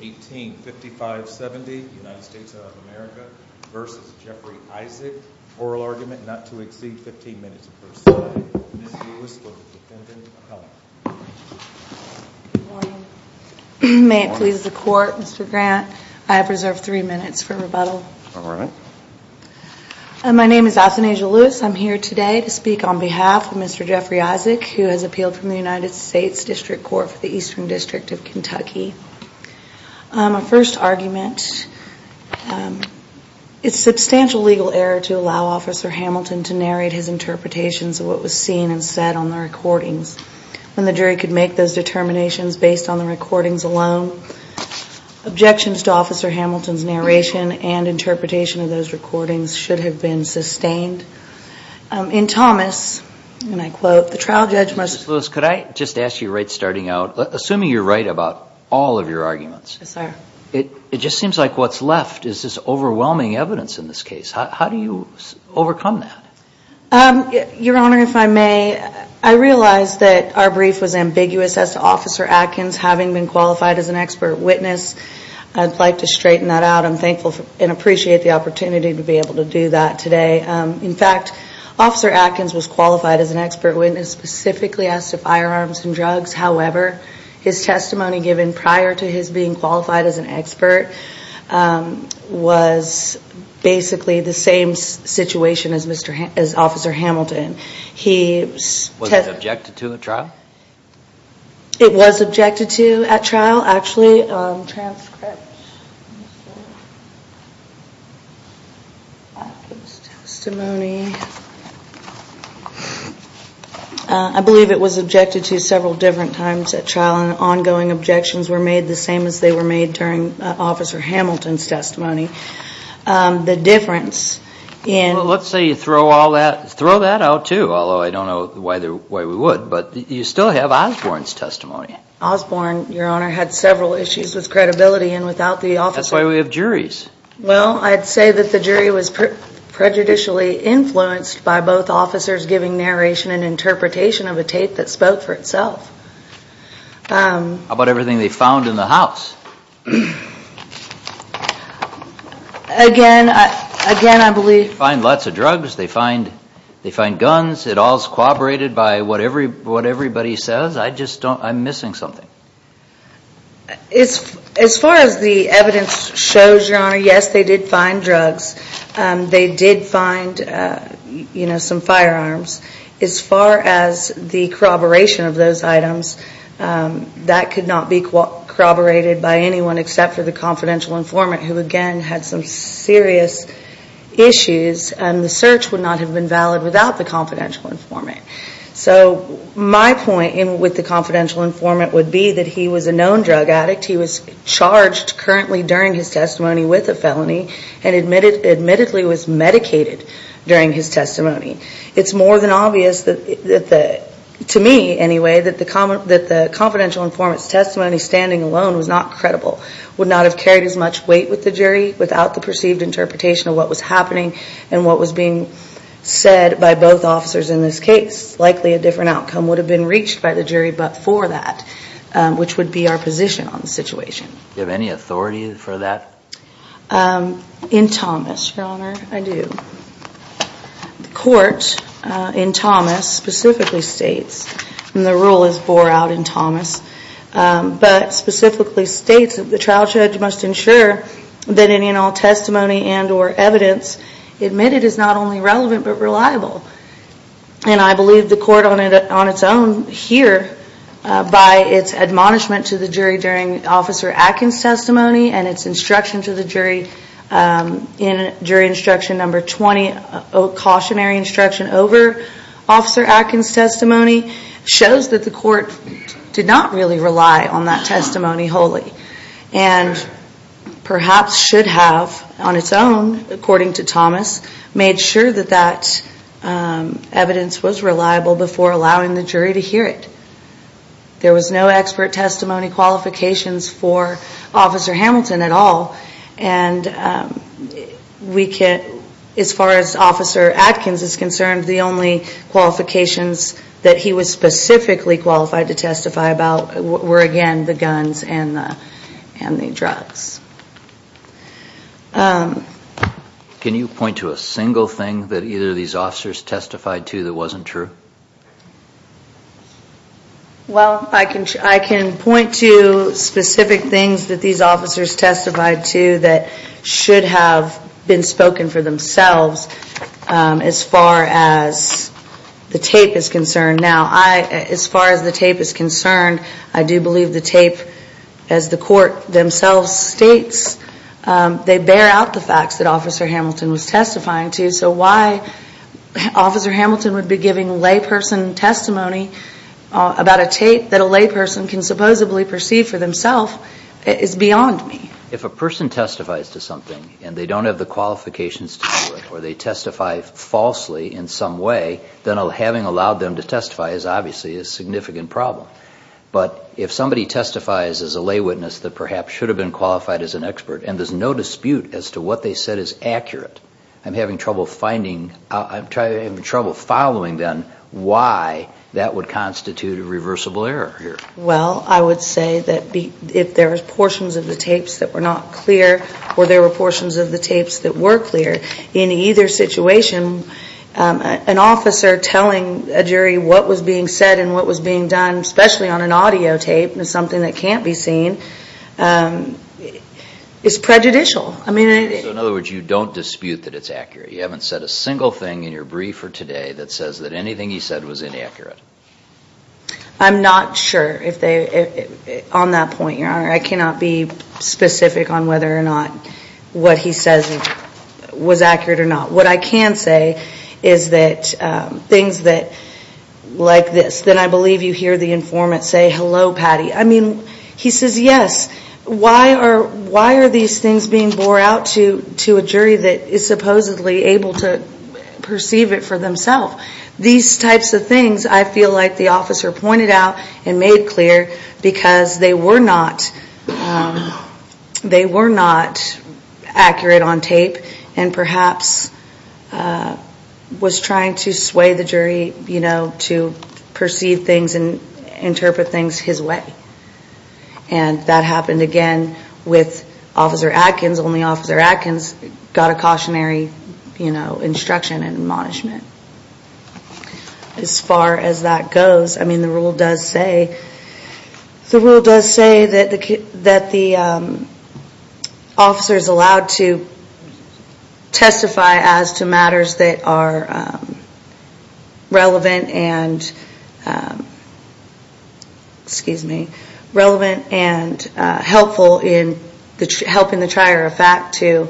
185570 United States of America v. Jeffrey Isaac. Oral argument not to exceed 15 minutes per side. Ms. Lewis for the defendant appellant. Good morning. May it please the court, Mr. Grant. I have reserved 3 minutes for rebuttal. Alright. My name is Athenasia Lewis. I'm here today to speak on behalf of Mr. Jeffrey Isaac who has appealed from the United States District Court for the Eastern District of Kentucky. My first argument, it's substantial legal error to allow Officer Hamilton to narrate his interpretations of what was seen and said on the recordings. When the jury could make those determinations based on the recordings alone. Objections to Officer Hamilton's narration and interpretation of those recordings should have been sustained. In Thomas, and I quote, the trial judge must... Ms. Lewis, could I just ask you right starting out, assuming you're right about all of your arguments. Yes, sir. It just seems like what's left is this overwhelming evidence in this case. How do you overcome that? Your Honor, if I may, I realize that our brief was ambiguous as to Officer Atkins having been qualified as an expert witness. I'd like to straighten that out. I'm thankful and appreciate the opportunity to be able to do that today. In fact, Officer Atkins was qualified as an expert witness specifically as to firearms and drugs. However, his testimony given prior to his being qualified as an expert was basically the same situation as Officer Hamilton. Was it objected to at trial? It was objected to at trial, actually. I believe it was objected to several different times at trial. And ongoing objections were made the same as they were made during Officer Hamilton's testimony. The difference in... Well, let's say you throw that out too, although I don't know why we would. But you still have Osborne's testimony. Osborne, Your Honor, had several issues with credibility and without the officer... That's why we have juries. Well, I'd say that the jury was prejudicially influenced by both officers giving narration and interpretation of a tape that spoke for itself. How about everything they found in the house? Again, I believe... They find guns. It all is corroborated by what everybody says. I just don't... I'm missing something. As far as the evidence shows, Your Honor, yes, they did find drugs. They did find some firearms. As far as the corroboration of those items, that could not be corroborated by anyone except for the confidential informant who, again, had some serious issues. The search would not have been valid without the confidential informant. So my point with the confidential informant would be that he was a known drug addict. He was charged currently during his testimony with a felony and admittedly was medicated during his testimony. It's more than obvious, to me anyway, that the confidential informant's testimony standing alone was not credible. Would not have carried as much weight with the jury without the perceived interpretation of what was happening and what was being said by both officers in this case. Likely a different outcome would have been reached by the jury but for that, which would be our position on the situation. Do you have any authority for that? In Thomas, Your Honor, I do. The court in Thomas specifically states, and the rule is bore out in Thomas, but specifically states that the trial judge must ensure that any and all testimony and or evidence admitted is not only relevant but reliable. And I believe the court on its own here, by its admonishment to the jury during Officer Atkins' testimony and its instruction to the jury in jury instruction number 20, a cautionary instruction over Officer Atkins' testimony, shows that the court did not really rely on that testimony wholly. And perhaps should have, on its own, according to Thomas, made sure that that evidence was reliable before allowing the jury to hear it. There was no expert testimony qualifications for Officer Hamilton at all. And as far as Officer Atkins is concerned, the only qualifications that he was specifically qualified to testify about were, again, the guns and the drugs. Can you point to a single thing that either of these officers testified to that wasn't true? Well, I can point to specific things that these officers testified to that should have been spoken for themselves as far as the tape is concerned. Now, as far as the tape is concerned, I do believe the tape, as the court themselves states, they bear out the facts that Officer Hamilton was testifying to. So why Officer Hamilton would be giving layperson testimony about a tape that a layperson can supposedly perceive for themselves is beyond me. If a person testifies to something and they don't have the qualifications to do it, or they testify falsely in some way, then having allowed them to testify is obviously a significant problem. But if somebody testifies as a lay witness that perhaps should have been qualified as an expert, and there's no dispute as to what they said is accurate, I'm having trouble finding, I'm having trouble following then why that would constitute a reversible error here. Well, I would say that if there were portions of the tapes that were not clear, or there were portions of the tapes that were clear, in either situation, an officer telling a jury what was being said and what was being done, especially on an audio tape, something that can't be seen, is prejudicial. So in other words, you don't dispute that it's accurate. You haven't said a single thing in your brief for today that says that anything he said was inaccurate. I'm not sure on that point, Your Honor. I cannot be specific on whether or not what he says was accurate or not. What I can say is that things like this, then I believe you hear the informant say, Hello, Patty. I mean, he says yes. Why are these things being bore out to a jury that is supposedly able to perceive it for themselves? These types of things, I feel like the officer pointed out and made clear because they were not accurate on tape and perhaps was trying to sway the jury to perceive things and interpret things his way. And that happened again with Officer Atkins. Only Officer Atkins got a cautionary instruction and admonishment. As far as that goes, I mean, the rule does say that the officer is allowed to testify as to matters that are relevant and helpful in helping the trier of fact to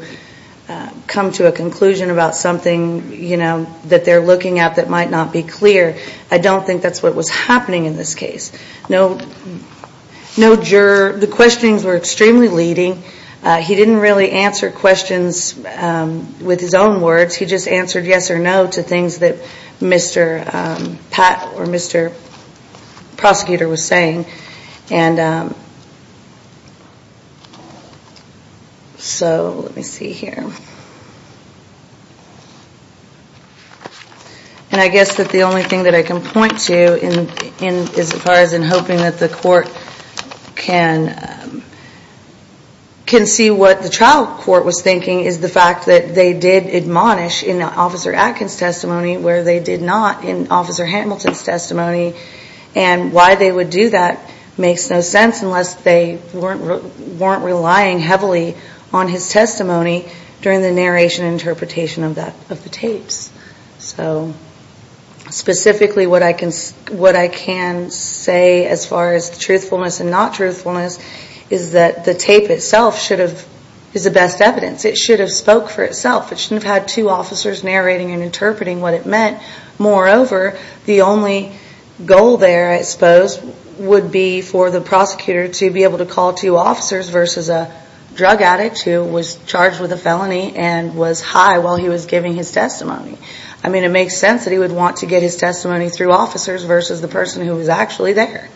come to a conclusion about something that they're looking at that might not be clear. I don't think that's what was happening in this case. The questionings were extremely leading. He didn't really answer questions with his own words. He just answered yes or no to things that Mr. Pat or Mr. Prosecutor was saying. And so let me see here. And I guess that the only thing that I can point to as far as in hoping that the court can see what the trial court was thinking is the fact that they did admonish in Officer Atkins' testimony where they did not in Officer Hamilton's testimony. And why they would do that makes no sense unless they weren't relying heavily on his testimony during the narration and interpretation of the tapes. So specifically what I can say as far as truthfulness and not truthfulness is that the tape itself is the best evidence. It should have spoke for itself. It shouldn't have had two officers narrating and interpreting what it meant. Moreover, the only goal there, I suppose, would be for the prosecutor to be able to call two officers versus a drug addict who was charged with a felony and was high while he was giving his testimony. I mean, it makes sense that he would want to get his testimony through officers versus the person who was actually there.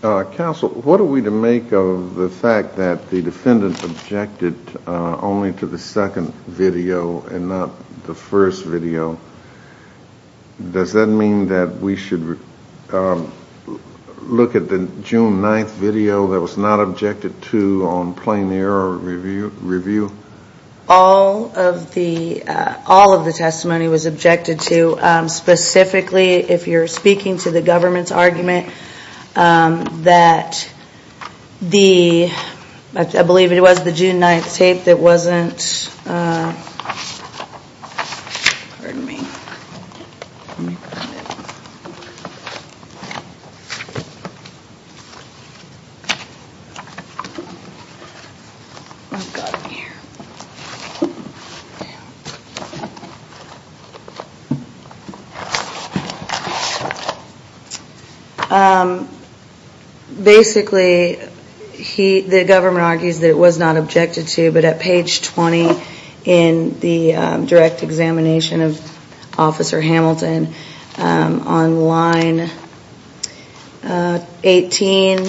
Counsel, what are we to make of the fact that the defendant objected only to the second video and not the first video? Does that mean that we should look at the June 9th video that was not objected to on plain error review? All of the all of the testimony was objected to. Specifically, if you're speaking to the government's argument that the I believe it was the June 9th tape that wasn't. Basically, he the government argues that it was not objected to, but at page 20 in the direct examination of Officer Hamilton on line 18,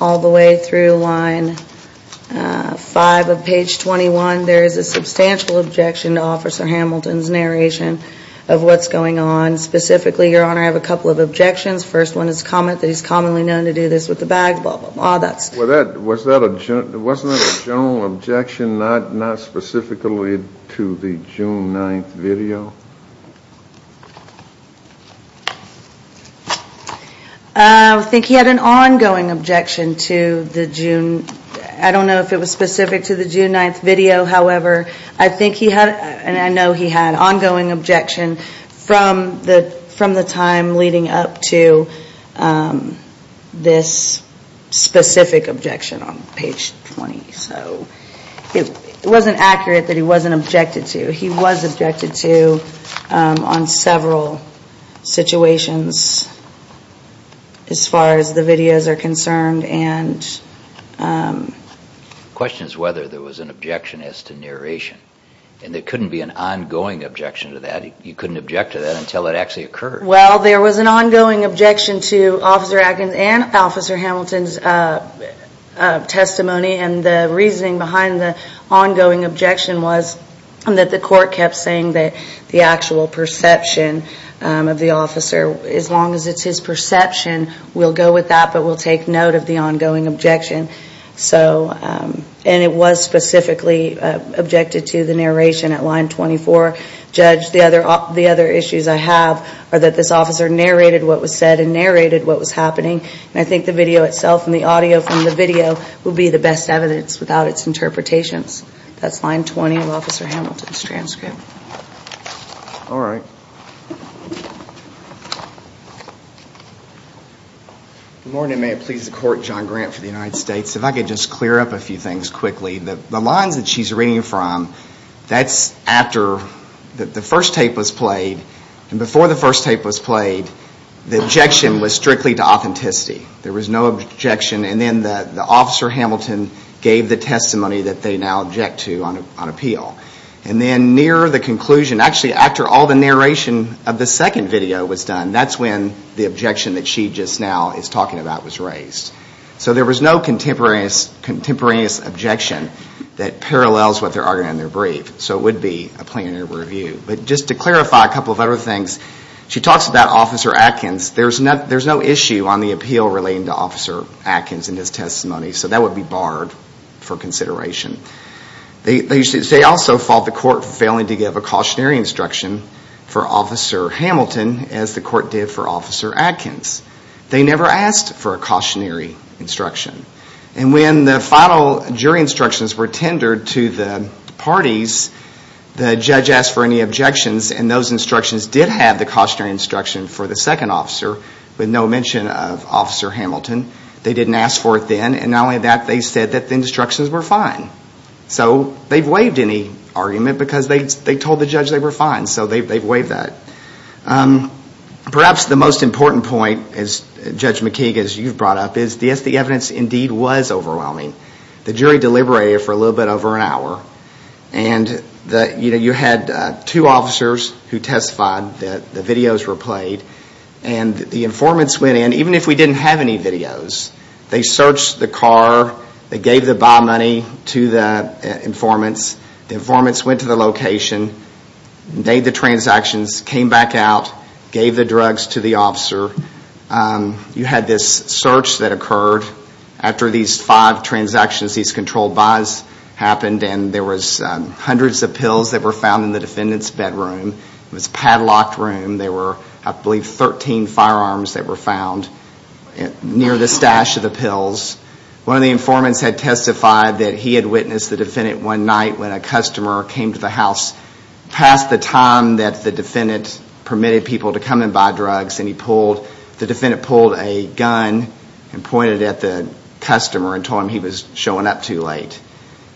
all the way through line 5 of page 21, there is a substantial objection to Officer Hamilton's narration of what's going on. Specifically, your honor, I have a couple of objections. First one is comment that he's commonly known to do this with the bag. Well, that's what that was. That wasn't a general objection, not not specifically to the June 9th video. I think he had an ongoing objection to the June. I don't know if it was specific to the June 9th video. However, I think he had and I know he had ongoing objection from the from the time leading up to this specific objection on page 20. So it wasn't accurate that he wasn't objected to. He was objected to on several situations as far as the videos are concerned. And question is whether there was an objection as to narration and there couldn't be an ongoing objection to that. You couldn't object to that until it actually occurred. Well, there was an ongoing objection to Officer Atkins and Officer Hamilton's testimony. And the reasoning behind the ongoing objection was that the court kept saying that the actual perception of the officer, as long as it's his perception, we'll go with that, but we'll take note of the ongoing objection. So and it was specifically objected to the narration at line 24. Judge, the other the other issues I have are that this officer narrated what was said and narrated what was happening. And I think the video itself and the audio from the video will be the best evidence without its interpretations. That's line 20 of Officer Hamilton's transcript. All right. Good morning, may it please the court. John Grant for the United States. If I could just clear up a few things quickly. The lines that she's reading from, that's after the first tape was played. And before the first tape was played, the objection was strictly to authenticity. There was no objection. And then the Officer Hamilton gave the testimony that they now object to on appeal. And then near the conclusion, actually after all the narration of the second video was done, that's when the objection that she just now is talking about was raised. So there was no contemporaneous objection that parallels what they're arguing in their brief. So it would be a plaintiff review. But just to clarify a couple of other things, she talks about Officer Atkins. There's no issue on the appeal relating to Officer Atkins in his testimony. So that would be barred for consideration. They also fault the court for failing to give a cautionary instruction for Officer Hamilton as the court did for Officer Atkins. They never asked for a cautionary instruction. And when the final jury instructions were tendered to the parties, the judge asked for any objections. And those instructions did have the cautionary instruction for the second officer, with no mention of Officer Hamilton. They didn't ask for it then. And not only that, they said that the instructions were fine. So they've waived any argument because they told the judge they were fine. So they've waived that. Perhaps the most important point, Judge McKeague, as you've brought up, is the evidence indeed was overwhelming. The jury deliberated for a little bit over an hour. And you had two officers who testified. The videos were played. And the informants went in, even if we didn't have any videos. They searched the car. They gave the buy money to the informants. The informants went to the location. Made the transactions. Came back out. Gave the drugs to the officer. You had this search that occurred. After these five transactions, these controlled buys happened. And there was hundreds of pills that were found in the defendant's bedroom. It was a padlocked room. There were, I believe, 13 firearms that were found near the stash of the pills. One of the informants had testified that he had witnessed the defendant one night when a customer came to the house past the time that the defendant permitted people to come and buy drugs. And the defendant pulled a gun and pointed at the customer and told him he was showing up too late.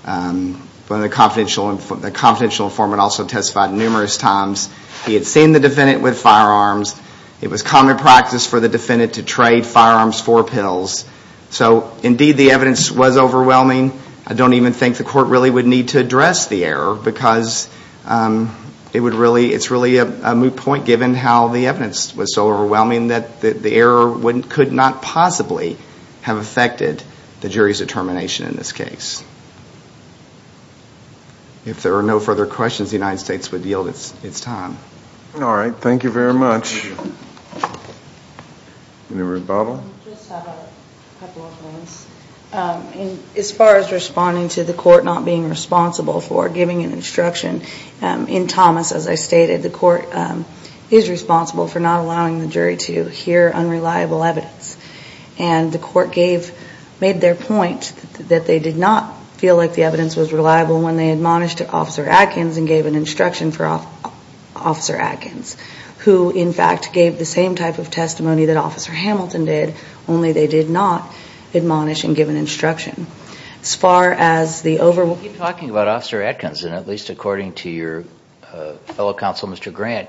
The confidential informant also testified numerous times. He had seen the defendant with firearms. It was common practice for the defendant to trade firearms for pills. So, indeed, the evidence was overwhelming. I don't even think the court really would need to address the error because it's really a moot point given how the evidence was so overwhelming that the error could not possibly have affected the jury's determination in this case. If there are no further questions, the United States would yield its time. All right. Thank you very much. Anybody? I just have a couple of points. As far as responding to the court not being responsible for giving an instruction, in Thomas, as I stated, the court is responsible for not allowing the jury to hear unreliable evidence. And the court made their point that they did not feel like the evidence was reliable when they admonished Officer Atkins and gave an instruction for Officer Atkins, who, in fact, gave the same type of testimony that Officer Hamilton did, only they did not admonish and give an instruction. As far as the overwhelming… You keep talking about Officer Atkins, and at least according to your fellow counsel, Mr. Grant,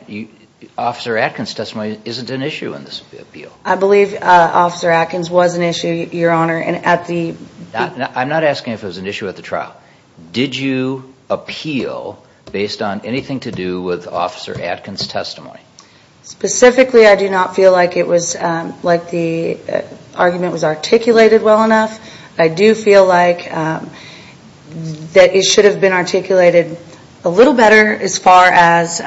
Officer Atkins' testimony isn't an issue in this appeal. I believe Officer Atkins was an issue, Your Honor, and at the… I'm not asking if it was an issue at the trial. Did you appeal based on anything to do with Officer Atkins' testimony? Specifically, I do not feel like the argument was articulated well enough. I do feel like it should have been articulated a little better as far as,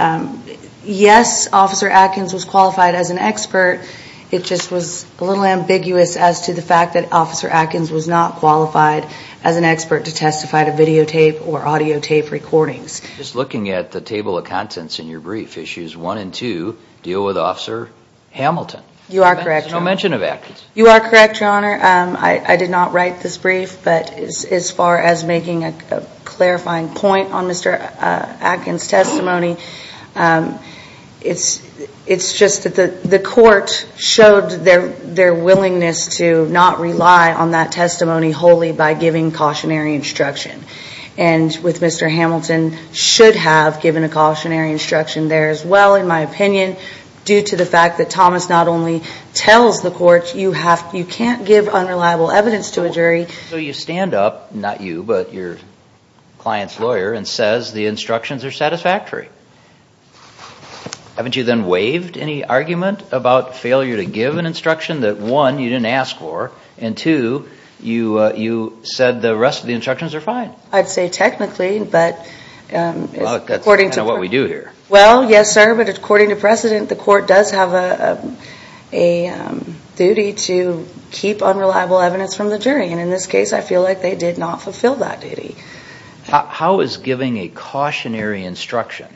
yes, Officer Atkins was qualified as an expert. It just was a little ambiguous as to the fact that Officer Atkins was not qualified as an expert to testify to videotape or audio tape recordings. Just looking at the table of contents in your brief, Issues 1 and 2 deal with Officer Hamilton. You are correct, Your Honor. There's no mention of Atkins. You are correct, Your Honor. I did not write this brief, but as far as making a clarifying point on Mr. Atkins' testimony, it's just that the court showed their willingness to not rely on that testimony wholly by giving cautionary instruction. And with Mr. Hamilton, should have given a cautionary instruction there as well, in my opinion, due to the fact that Thomas not only tells the court you can't give unreliable evidence to a jury… So you stand up, not you, but your client's lawyer, and says the instructions are satisfactory. Haven't you then waived any argument about failure to give an instruction that, one, you didn't ask for, and, two, you said the rest of the instructions are fine? I'd say technically, but… Well, that's kind of what we do here. Well, yes, sir, but according to precedent, the court does have a duty to keep unreliable evidence from the jury. And in this case, I feel like they did not fulfill that duty. How is giving a cautionary instruction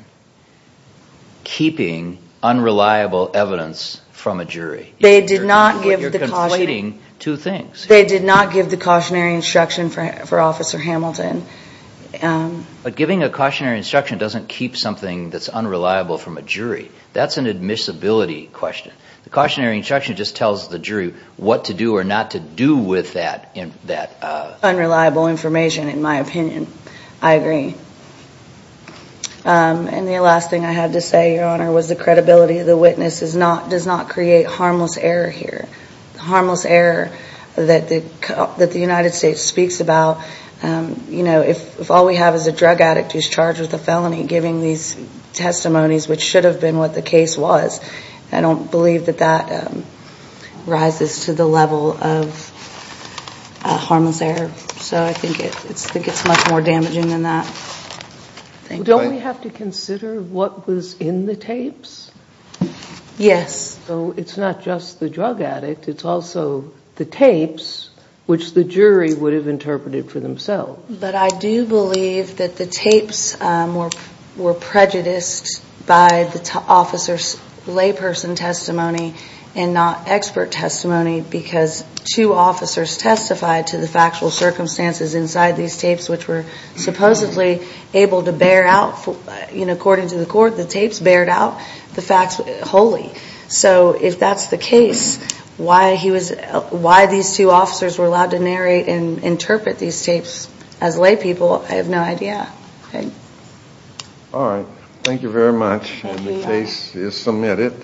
keeping unreliable evidence from a jury? You're conflating two things. They did not give the cautionary instruction for Officer Hamilton. But giving a cautionary instruction doesn't keep something that's unreliable from a jury. That's an admissibility question. The cautionary instruction just tells the jury what to do or not to do with that unreliable information, in my opinion. I agree. And the last thing I had to say, Your Honor, was the credibility of the witness does not create harmless error here. The harmless error that the United States speaks about, you know, if all we have is a drug addict who's charged with a felony, giving these testimonies, which should have been what the case was, I don't believe that that rises to the level of harmless error. So I think it's much more damaging than that. Don't we have to consider what was in the tapes? Yes. So it's not just the drug addict. It's also the tapes, which the jury would have interpreted for themselves. But I do believe that the tapes were prejudiced by the officer's layperson testimony and not expert testimony because two officers testified to the factual circumstances inside these tapes, which were supposedly able to bear out, you know, according to the court, the tapes bared out the facts wholly. So if that's the case, why these two officers were allowed to narrate and interpret these tapes as laypeople, I have no idea. All right. Thank you very much. The case is submitted.